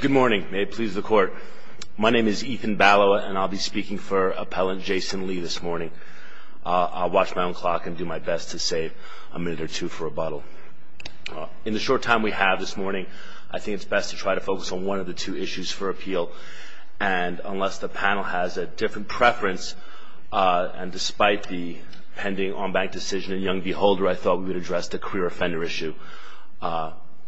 Good morning. May it please the court. My name is Ethan Balowa, and I'll be speaking for appellant Jason Lee this morning. I'll watch my own clock and do my best to save a minute or two for rebuttal. In the short time we have this morning, I think it's best to try to focus on one of the two issues for appeal. And unless the panel has a different preference, and despite the pending on-bank decision in Young v. Holder, I thought we would address the career offender issue.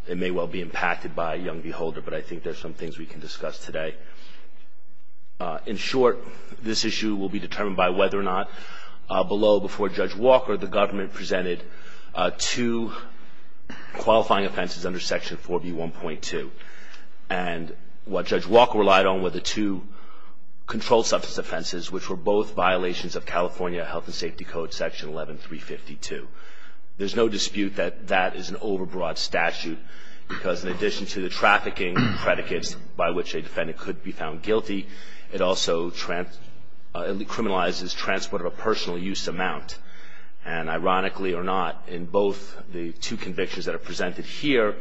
It may well be impacted by Young v. Holder, but I think there's some things we can discuss today. In short, this issue will be determined by whether or not below before Judge Walker, the government presented two qualifying offenses under Section 4B1.2. And what Judge Walker relied on were the two controlled substance offenses, which were both violations of California Health and Safety Code, Section 11352. There's no dispute that that is an overbroad statute, because in addition to the trafficking predicates by which a defendant could be found guilty, it also criminalizes transport of a personal use amount. And ironically or not, in both the two convictions that are presented here,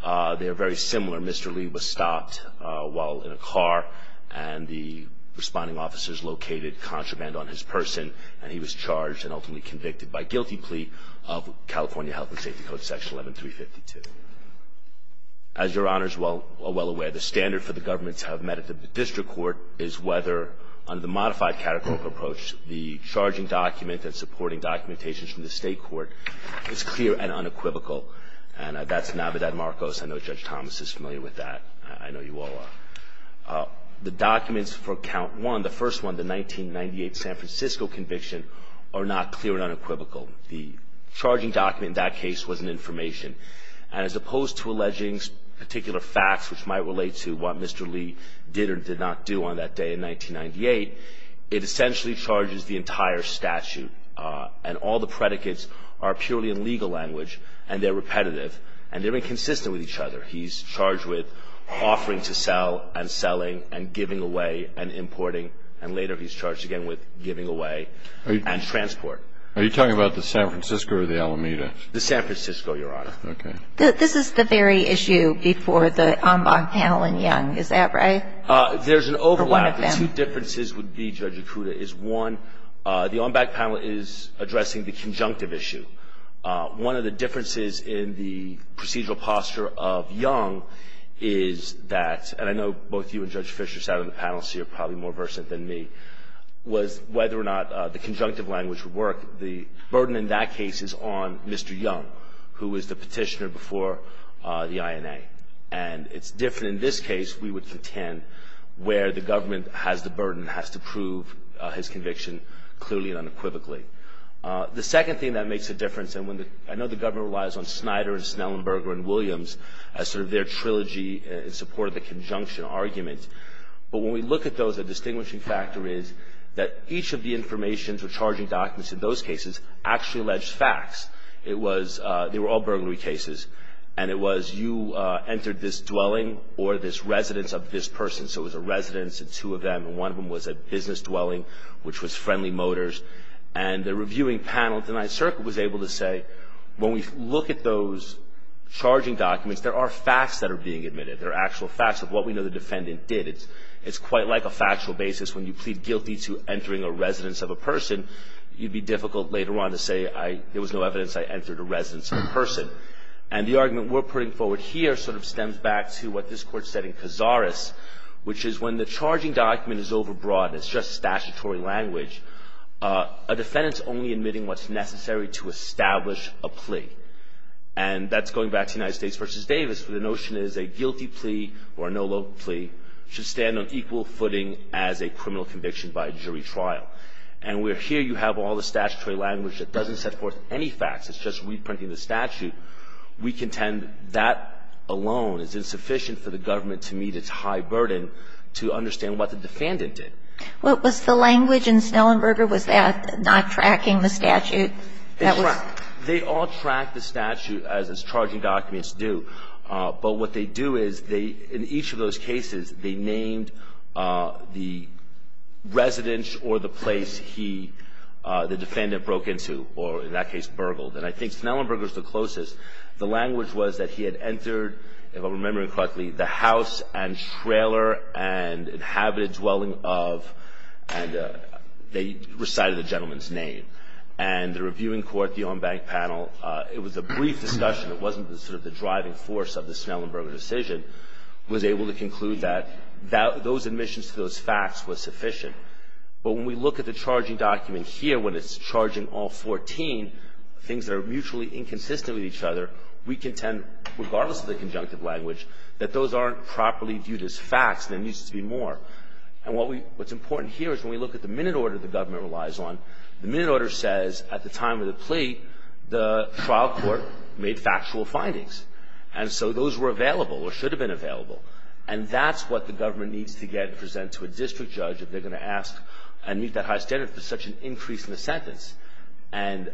they are very similar. Mr. Lee was stopped while in a car, and the responding officers located contraband on his person. And he was charged and ultimately convicted by guilty plea of California Health and Safety Code, Section 11352. As Your Honors are well aware, the standard for the government to have met at the district court is whether, under the modified catecholic approach, the charging document and supporting documentation from the state court is clear and unequivocal. And that's Navidad-Marcos. I know Judge Thomas is familiar with that. I know you all are. The documents for Count 1, the first one, the 1998 San Francisco conviction, are not clear and unequivocal. The charging document in that case was an information. And as opposed to alleging particular facts which might relate to what Mr. Lee did or did not do on that day in 1998, it essentially charges the entire statute. And all the predicates are purely in legal language, and they're repetitive, and they're inconsistent with each other. He's charged with offering to sell and selling and giving away and importing. And later, he's charged again with giving away and transport. Are you talking about the San Francisco or the Alameda? The San Francisco, Your Honor. OK. This is the very issue before the en banc panel in Young. Is that right? There's an overlap. Or one of them. The two differences would be, Judge Acuda, is one, the en banc panel is addressing the conjunctive issue. One of the differences in the procedural posture of Young is that, and I know both you and Judge Fischer sat on the panel, so you're probably more versant than me, was whether or not the conjunctive language would work. The burden in that case is on Mr. Young, who is the petitioner before the INA. And it's different in this case, we would contend, where the government has the burden, has to prove his conviction clearly and unequivocally. The second thing that makes a difference, and I know the government relies on Snyder and Snellenberger and Williams as sort of their trilogy in support of the conjunction argument. But when we look at those, a distinguishing factor is that each of the information or charging documents in those cases actually alleged facts. It was, they were all burglary cases. And it was, you entered this dwelling or this residence of this person. So it was a residence and two of them. And one of them was a business dwelling, which was Friendly Motors. And the reviewing panel at the Ninth Circuit was able to say, when we look at those charging documents, there are facts that are being admitted. There are actual facts of what we know the defendant did. It's quite like a factual basis. When you plead guilty to entering a residence of a person, you'd be difficult later on to say, there was no evidence I entered a residence of a person. And the argument we're putting forward here sort of stems back to what this court said in Cazares, which is when the charging document is overbroad, it's just statutory language, a defendant's only admitting what's necessary to establish a plea. And that's going back to United States versus Davis, where the notion is a guilty plea or a no-loan plea should stand on equal footing as a criminal conviction by a jury trial. And here you have all the statutory language that doesn't set forth any facts. It's just reprinting the statute. We contend that alone is insufficient for the government to meet its high burden to understand what the defendant did. What was the language in Snellenberger? Was that not tracking the statute? They all track the statute, as its charging documents do. But what they do is, in each of those cases, they named the residence or the place the defendant broke into, or in that case, burgled. And I think Snellenberger is the closest. The language was that he had entered, if I'm remembering correctly, the house and trailer and inhabited dwelling of, and they recited the gentleman's name. And the reviewing court, the on-bank panel, it was a brief discussion. It wasn't the driving force of the Snellenberger decision, was able to conclude that those admissions to those facts were sufficient. But when we look at the charging document here, when it's charging all 14, things that are mutually inconsistent with each other, we contend, regardless of the conjunctive language, that those aren't properly viewed as facts. There needs to be more. And what's important here is, when we look at the minute order the government relies on, the minute order says, at the time of the plea, the trial court made factual findings. And so those were available, or should have been available. And that's what the government needs to get presented to a district judge if they're going to ask and meet that high standard for such an increase in the sentence. And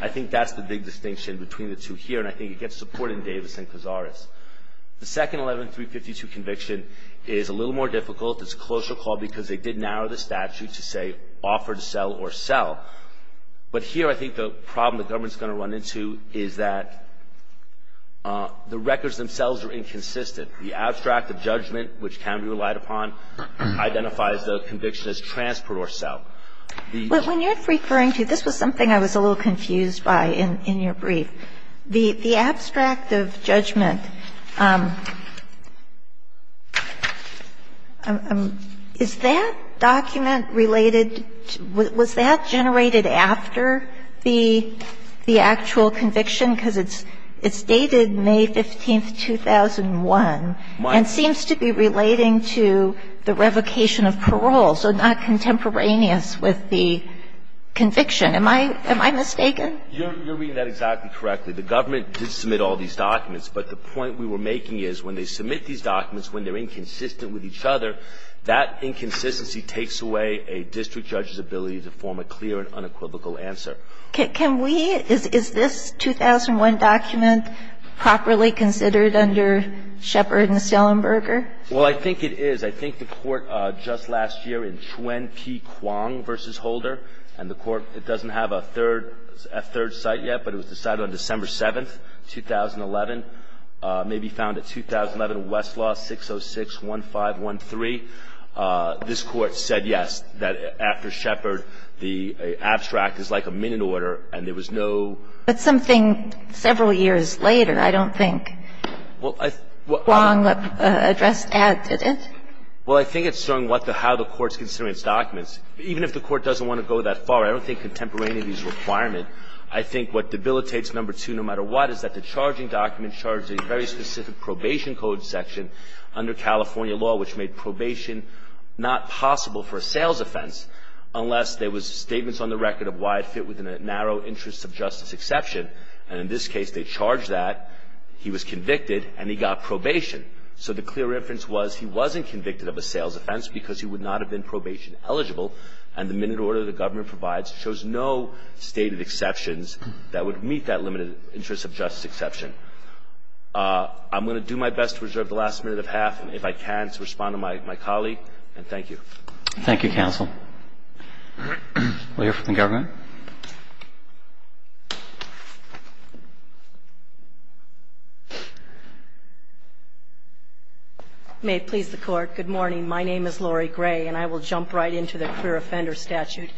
I think that's the big distinction between the two here, and I think it gets support in Davis and Cazares. The second 11-352 conviction is a little more difficult. It's a closer call because they did narrow the statute to say, offer to sell or sell. But here I think the problem the government's going to run into is that the records themselves are inconsistent. The abstract of judgment, which can be relied upon, identifies the conviction as transport or sell. But when you're referring to, this was something I was a little confused by in your brief. The abstract of judgment, is that document related? Was that generated after the actual conviction? Because it's dated May 15, 2001, and seems to be relating to the revocation of parole, so not contemporaneous with the conviction. Am I mistaken? You're reading that exactly correctly. The government did submit all these documents. But the point we were making is, when they submit these documents, when they're inconsistent with each other, that inconsistency takes away a district judge's ability to form a clear and unequivocal answer. Is this 2001 document properly considered under Shepard and Selenberger? Well, I think it is. I think the court just last year in Chuen P. Kwong v. Holder, and the court, it doesn't have a third site yet. But it was decided on December 7, 2011, may be found at 2011 Westlaw 6061513. This Court said yes, that after Shepard, the abstract is like a minute order, and there was no ---- But something several years later, I don't think. Well, I ---- Kwong addressed that, didn't it? Well, I think it's showing what the ---- how the Court's considering its documents. Even if the Court doesn't want to go that far, I don't think contemporaneity is a requirement. I think what debilitates No. 2, no matter what, is that the charging document charged a very specific probation code section under California law, which made probation not possible for a sales offense unless there was statements on the record of why it fit within a narrow interest of justice exception. And in this case, they charged that. He was convicted, and he got probation. So the clear inference was he wasn't convicted of a sales offense because he would not have been probation eligible, and the minute order the government provides shows no stated exceptions that would meet that limited interest of justice exception. I'm going to do my best to reserve the last minute of half, and if I can, to respond to my colleague, and thank you. Thank you, counsel. We'll hear from the government. May it please the Court. Good morning. My name is Lori Gray, and I will jump right into the clear offender statute.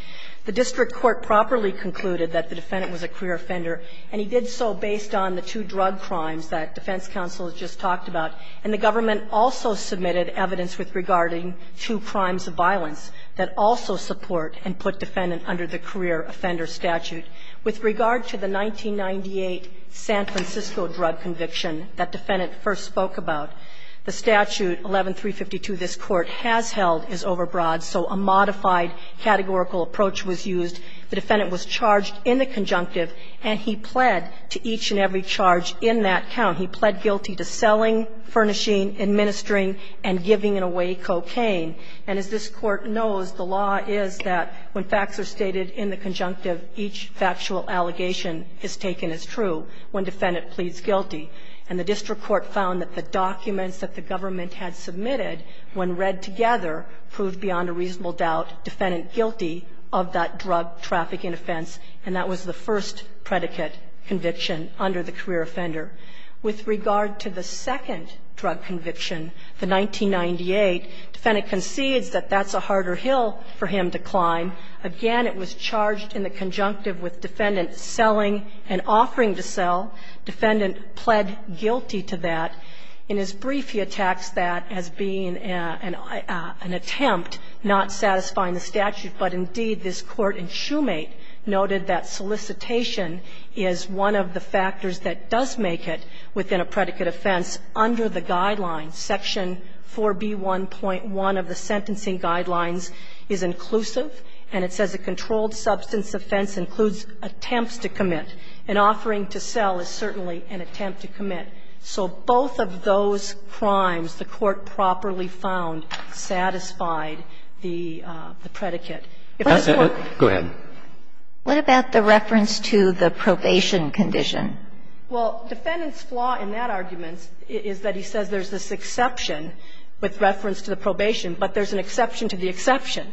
The district court properly concluded that the defendant was a clear offender, and he did so based on the two drug crimes that defense counsel just talked about. And the government also submitted evidence with regarding two crimes of violence that also support and put defendant under the clear offender statute. With regard to the 1998 San Francisco drug conviction that defendant first spoke about, the statute 11-352 this Court has held is overbroad, so a modified categorical approach was used. The defendant was charged in the conjunctive, and he pled to each and every charge in that count. He pled guilty to selling, furnishing, administering, and giving away cocaine. And as this Court knows, the law is that when facts are stated in the conjunctive, each factual allegation is taken as true when defendant pleads guilty. And the district court found that the documents that the government had submitted when read together proved beyond a reasonable doubt defendant guilty of that drug trafficking offense, and that was the first predicate conviction under the clear offender. With regard to the second drug conviction, the 1998, defendant concedes that that's a harder hill for him to climb. Again, it was charged in the conjunctive with defendant selling and offering to sell. Defendant pled guilty to that. In his brief, he attacks that as being an attempt, not satisfying the statute. But indeed, this Court in Shoemate noted that solicitation is one of the factors that does make it within a predicate offense under the guidelines. Section 4B1.1 of the sentencing guidelines is inclusive, and it says a controlled substance offense includes attempts to commit. An offering to sell is certainly an attempt to commit. So both of those crimes, the Court properly found, satisfied the predicate. If the Court go ahead. What about the reference to the probation condition? Well, defendant's flaw in that argument is that he says there's this exception with reference to the probation, but there's an exception to the exception,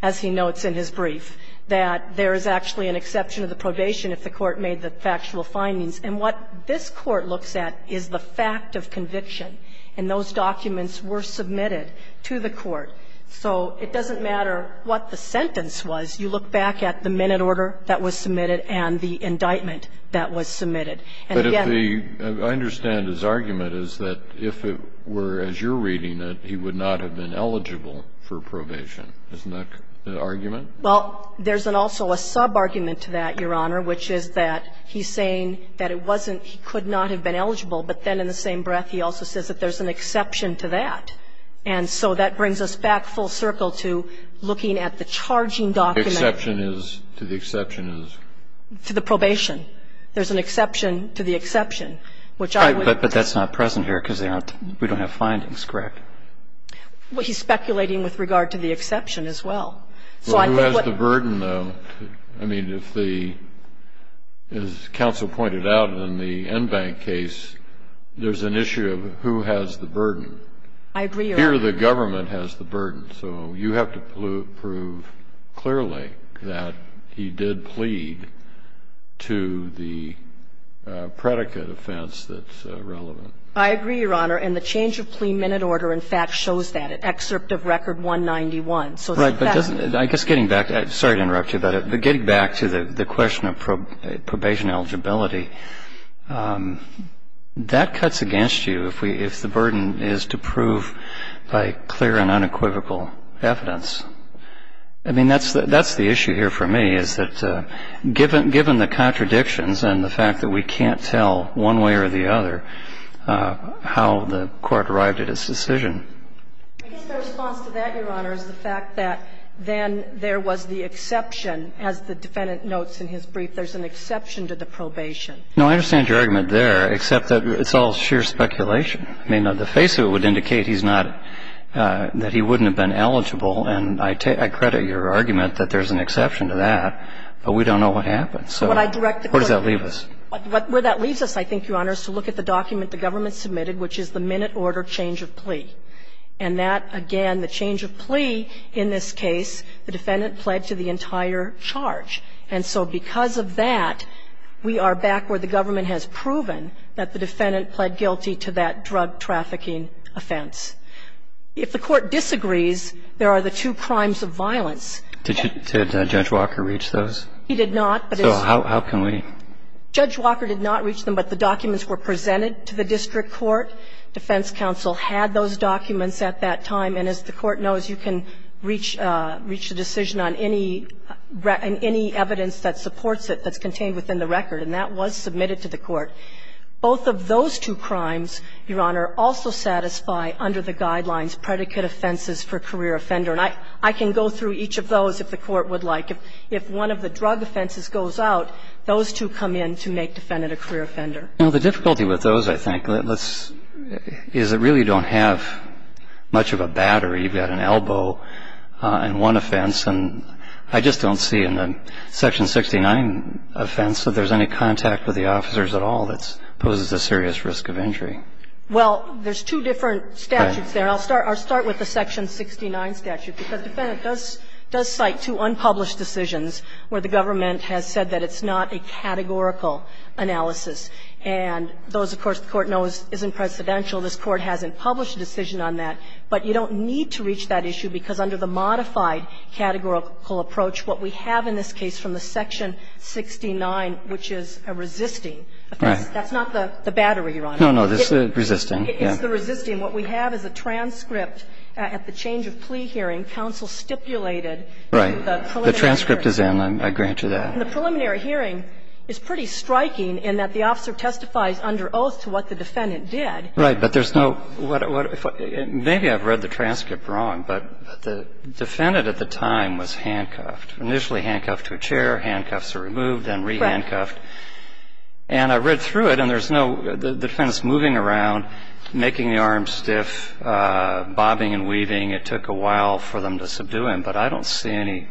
as he notes in his brief, that there is actually an exception to the probation if the Court made the factual findings. And what this Court looks at is the fact of conviction, and those documents were submitted to the Court. So it doesn't matter what the sentence was. You look back at the minute order that was submitted and the indictment that was submitted. And again the ---- But if the ---- I understand his argument is that if it were as you're reading it, he would not have been eligible for probation. Isn't that the argument? Well, there's an also a sub-argument to that, Your Honor, which is that he's saying that it wasn't he could not have been eligible, but then in the same breath he also says that there's an exception to that, and so that brings us back full circle to looking at the charging document. The exception is to the exception is? To the probation. There's an exception to the exception, which I would ---- But that's not present here because we don't have findings, correct? Well, he's speculating with regard to the exception as well. So I think what ---- Well, who has the burden, though? I mean, if the ---- as counsel pointed out in the Enbank case, there's an issue of who has the burden. I agree, Your Honor. Here the government has the burden. So you have to prove clearly that he did plead to the predicate offense that's relevant. I agree, Your Honor, and the change of plea minute order, in fact, shows that. It excerpt of Record 191. So that's ---- I guess getting back to the question of probation eligibility, that cuts against you if the burden is to prove by clear and unequivocal evidence. I mean, that's the issue here for me, is that given the contradictions and the fact that we can't tell one way or the other how the court arrived at its decision. I guess the response to that, Your Honor, is the fact that then there was the exception as the defendant notes in his brief, there's an exception to the probation. No, I understand your argument there, except that it's all sheer speculation. I mean, on the face of it would indicate he's not ---- that he wouldn't have been eligible, and I take ---- I credit your argument that there's an exception to that, but we don't know what happened. So where does that leave us? Where that leaves us, I think, Your Honor, is to look at the document the government submitted, which is the minute order change of plea. And that, again, the change of plea in this case, the defendant pled to the entire charge. And so because of that, we are back where the government has proven that the defendant pled guilty to that drug trafficking offense. If the court disagrees, there are the two crimes of violence. Did Judge Walker reach those? He did not, but it's ---- So how can we ---- Judge Walker did not reach them, but the documents were presented to the district court. Defense counsel had those documents at that time, and as the court knows, you can reach a decision on any evidence that supports it that's contained within the record, and that was submitted to the court. Both of those two crimes, Your Honor, also satisfy under the guidelines predicate offenses for career offender. And I can go through each of those if the court would like. If one of the drug offenses goes out, those two come in to make the defendant a career offender. Now, the difficulty with those, I think, let's ---- is it really don't have much of a battery. You've got an elbow and one offense, and I just don't see in the Section 69 offense that there's any contact with the officers at all that poses a serious risk of injury. Well, there's two different statutes there. I'll start with the Section 69 statute, because the defendant does cite two unpublished decisions where the government has said that it's not a categorical analysis. And those, of course, the court knows, isn't presidential. This Court hasn't published a decision on that. But you don't need to reach that issue, because under the modified categorical approach, what we have in this case from the Section 69, which is a resisting offense, that's not the battery, Your Honor. No, no. It's the resisting. It's the resisting. What we have is a transcript at the change of plea hearing. and the State Court record, in the preliminary hearing, counsel stipulated the preliminary hearing. Right. The transcript is in. I grant you that. And the preliminary hearing is pretty striking in that the officer testifies under oath to what the defendant did. Right. But there's no ---- maybe I've read the transcript wrong, but the defendant at the time was handcuffed, initially handcuffed to a chair. I don't see any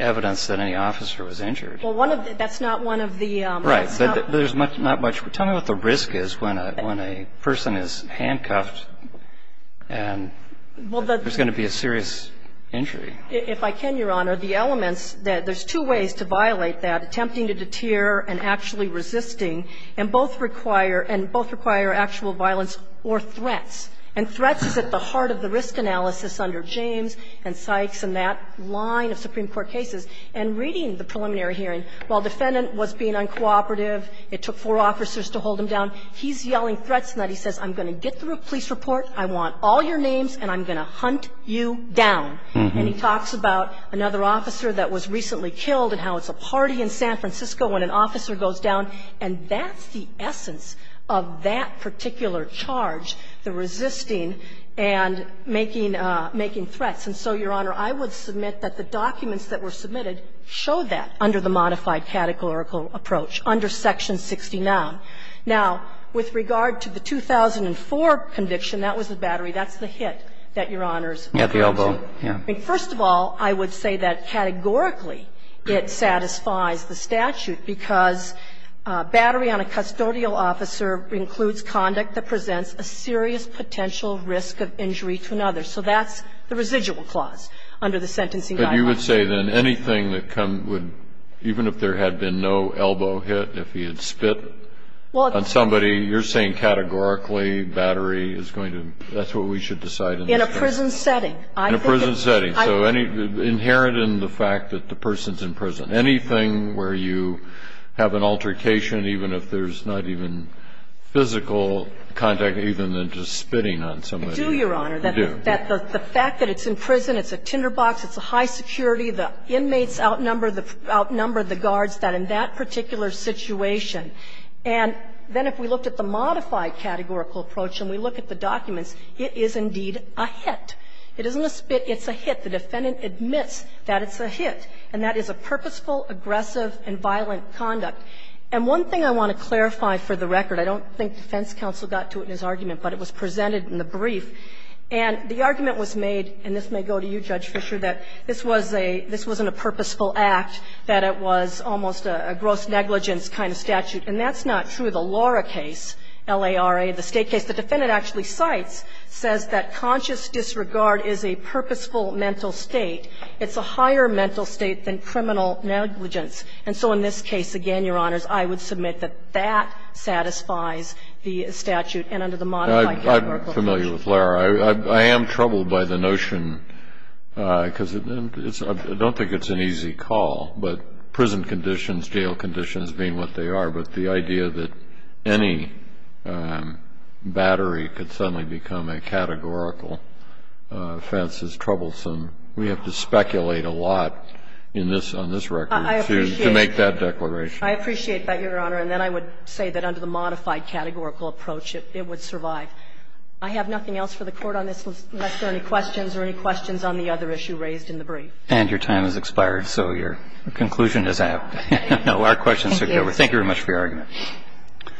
evidence that any officer was injured. Well, one of the ---- that's not one of the ---- Right. There's not much. Tell me what the risk is when a person is handcuffed and there's going to be a serious injury. If I can, Your Honor, the elements that ---- there's two ways to violate that, attempting to deter and actually resisting, and both require actual violence or threats. And threats is at the heart of the risk analysis under James and Sykes and that line of Supreme Court cases. And reading the preliminary hearing, while defendant was being uncooperative, it took four officers to hold him down, he's yelling threats and then he says, I'm going to get the police report, I want all your names, and I'm going to hunt you down. And he talks about another officer that was recently killed and how it's a party in San Francisco when an officer goes down. And that's the essence of that particular charge, the resisting and making threats. And so, Your Honor, I would submit that the documents that were submitted show that under the modified categorical approach, under Section 69. Now, with regard to the 2004 conviction, that was the battery, that's the hit that Your Honor's mentioned. At the elbow, yes. First of all, I would say that categorically it satisfies the statute because battery on a custodial officer includes conduct that presents a serious potential risk of injury to another. So that's the residual clause under the sentencing dialogue. But you would say then anything that would, even if there had been no elbow hit, if he had spit on somebody, you're saying categorically battery is going to, that's what we should decide in this case. In a prison setting. In a prison setting. So inherent in the fact that the person's in prison. Anything where you have an altercation, even if there's not even physical contact, even than just spitting on somebody. We do, Your Honor. We do. The fact that it's in prison, it's a tinderbox, it's a high security, the inmates outnumber the guards that in that particular situation. And then if we looked at the modified categorical approach and we look at the documents, it is indeed a hit. It isn't a spit, it's a hit. The defendant admits that it's a hit. And that is a purposeful, aggressive and violent conduct. And one thing I want to clarify for the record, I don't think defense counsel got to it in his argument, but it was presented in the brief. And the argument was made, and this may go to you, Judge Fischer, that this was a, this wasn't a purposeful act, that it was almost a gross negligence kind of statute. And that's not true. The Laura case, L-A-R-A, the State case, the defendant actually cites, says that conscious disregard is a purposeful mental state. It's a higher mental state than criminal negligence. And so in this case, again, Your Honors, I would submit that that satisfies the statute and under the modified categorical approach. Kennedy, I'm familiar with L-A-R-A. I am troubled by the notion, because I don't think it's an easy call, but prison conditions, jail conditions being what they are, but the idea that any battery could suddenly become a categorical offense is troublesome. We have to speculate a lot in this, on this record to make that declaration. I appreciate that, Your Honor. And then I would say that under the modified categorical approach, it would survive. I have nothing else for the Court on this unless there are any questions or any questions on the other issue raised in the brief. And your time has expired, so your conclusion is out. No, our questions are over. Thank you very much for your argument. Thank you.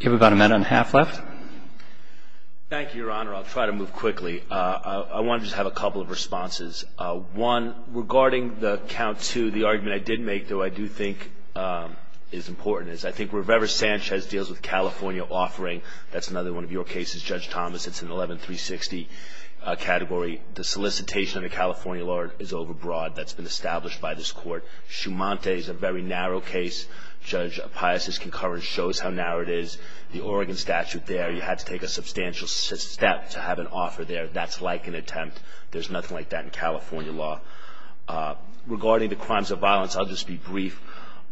Do we have about a minute and a half left? Thank you, Your Honor. I'll try to move quickly. I want to just have a couple of responses. One, regarding the count two, the argument I did make, though I do think is important, is I think Rivera-Sanchez deals with California offering. That's another one of your cases, Judge Thomas. It's an 11-360 category. The solicitation under California law is overbroad. That's been established by this Court. Schumante is a very narrow case. Judge Pius's concurrence shows how narrow it is. The Oregon statute there, you had to take a substantial step to have an offer there. That's like an attempt. There's nothing like that in California law. Regarding the crimes of violence, I'll just be brief.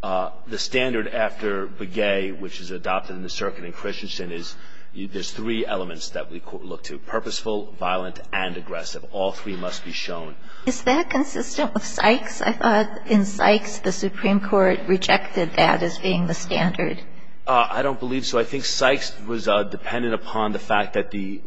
The standard after Begay, which is adopted in the circuit in Christensen, is there's three elements that we look to. Purposeful, violent, and aggressive. All three must be shown. Is that consistent with Sykes? I thought in Sykes the Supreme Court rejected that as being the standard. I don't believe so. I think Sykes was dependent upon the fact that the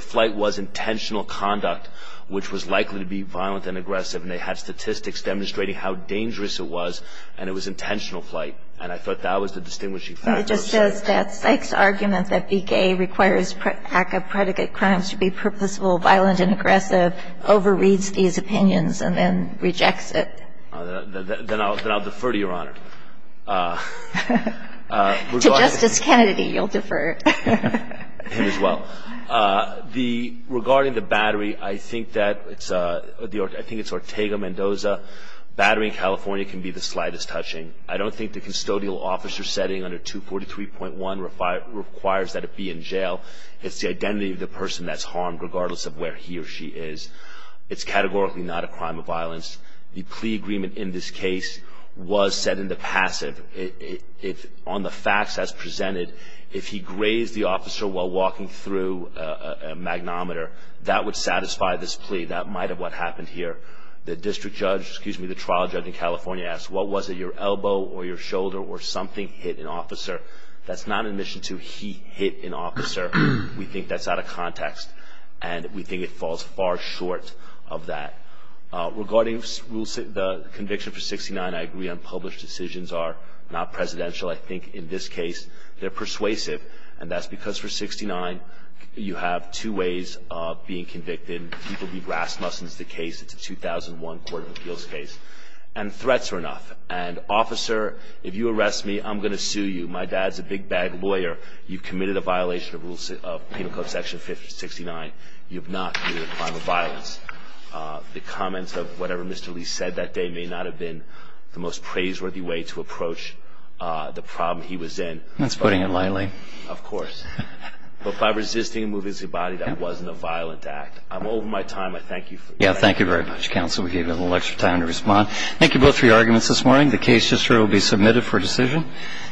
flight was intentional conduct, which was likely to be violent and aggressive. They had statistics demonstrating how dangerous it was, and it was intentional flight. I thought that was the distinguishing factor. It just says that Sykes' argument that Begay requires ACCA predicate crimes to be purposeful, violent, and aggressive overreads these opinions and then rejects it. Then I'll defer to Your Honor. To Justice Kennedy, you'll defer. Him as well. Regarding the battery, I think it's Ortega-Mendoza. Battery in California can be the slightest touching. I don't think the custodial officer setting under 243.1 requires that it be in jail. It's the identity of the person that's harmed, regardless of where he or she is. It's categorically not a crime of violence. The plea agreement in this case was set into passive. On the facts as presented, if he grazed the officer while walking through a magnometer, that would satisfy this plea. That might have what happened here. The trial judge in California asked, what was it, your elbow or your shoulder or something hit an officer? That's not an admission to he hit an officer. We think that's out of context, and we think it falls far short of that. Regarding the conviction for 69, I agree unpublished decisions are not presidential. I think in this case, they're persuasive. That's because for 69, you have two ways of being convicted. People be rasmussen's the case. It's a 2001 court of appeals case. Threats are enough. Officer, if you arrest me, I'm going to sue you. My dad's a big bag lawyer. You have not committed a crime of violence. The comments of whatever Mr. Lee said that day may not have been the most praiseworthy way to approach the problem he was in. That's putting it lightly. Of course. But by resisting and moving his body, that wasn't a violent act. I'm over my time. I thank you for your time. Thank you very much, counsel. We gave you a little extra time to respond. Thank you both for your arguments this morning. The case will be submitted for decision.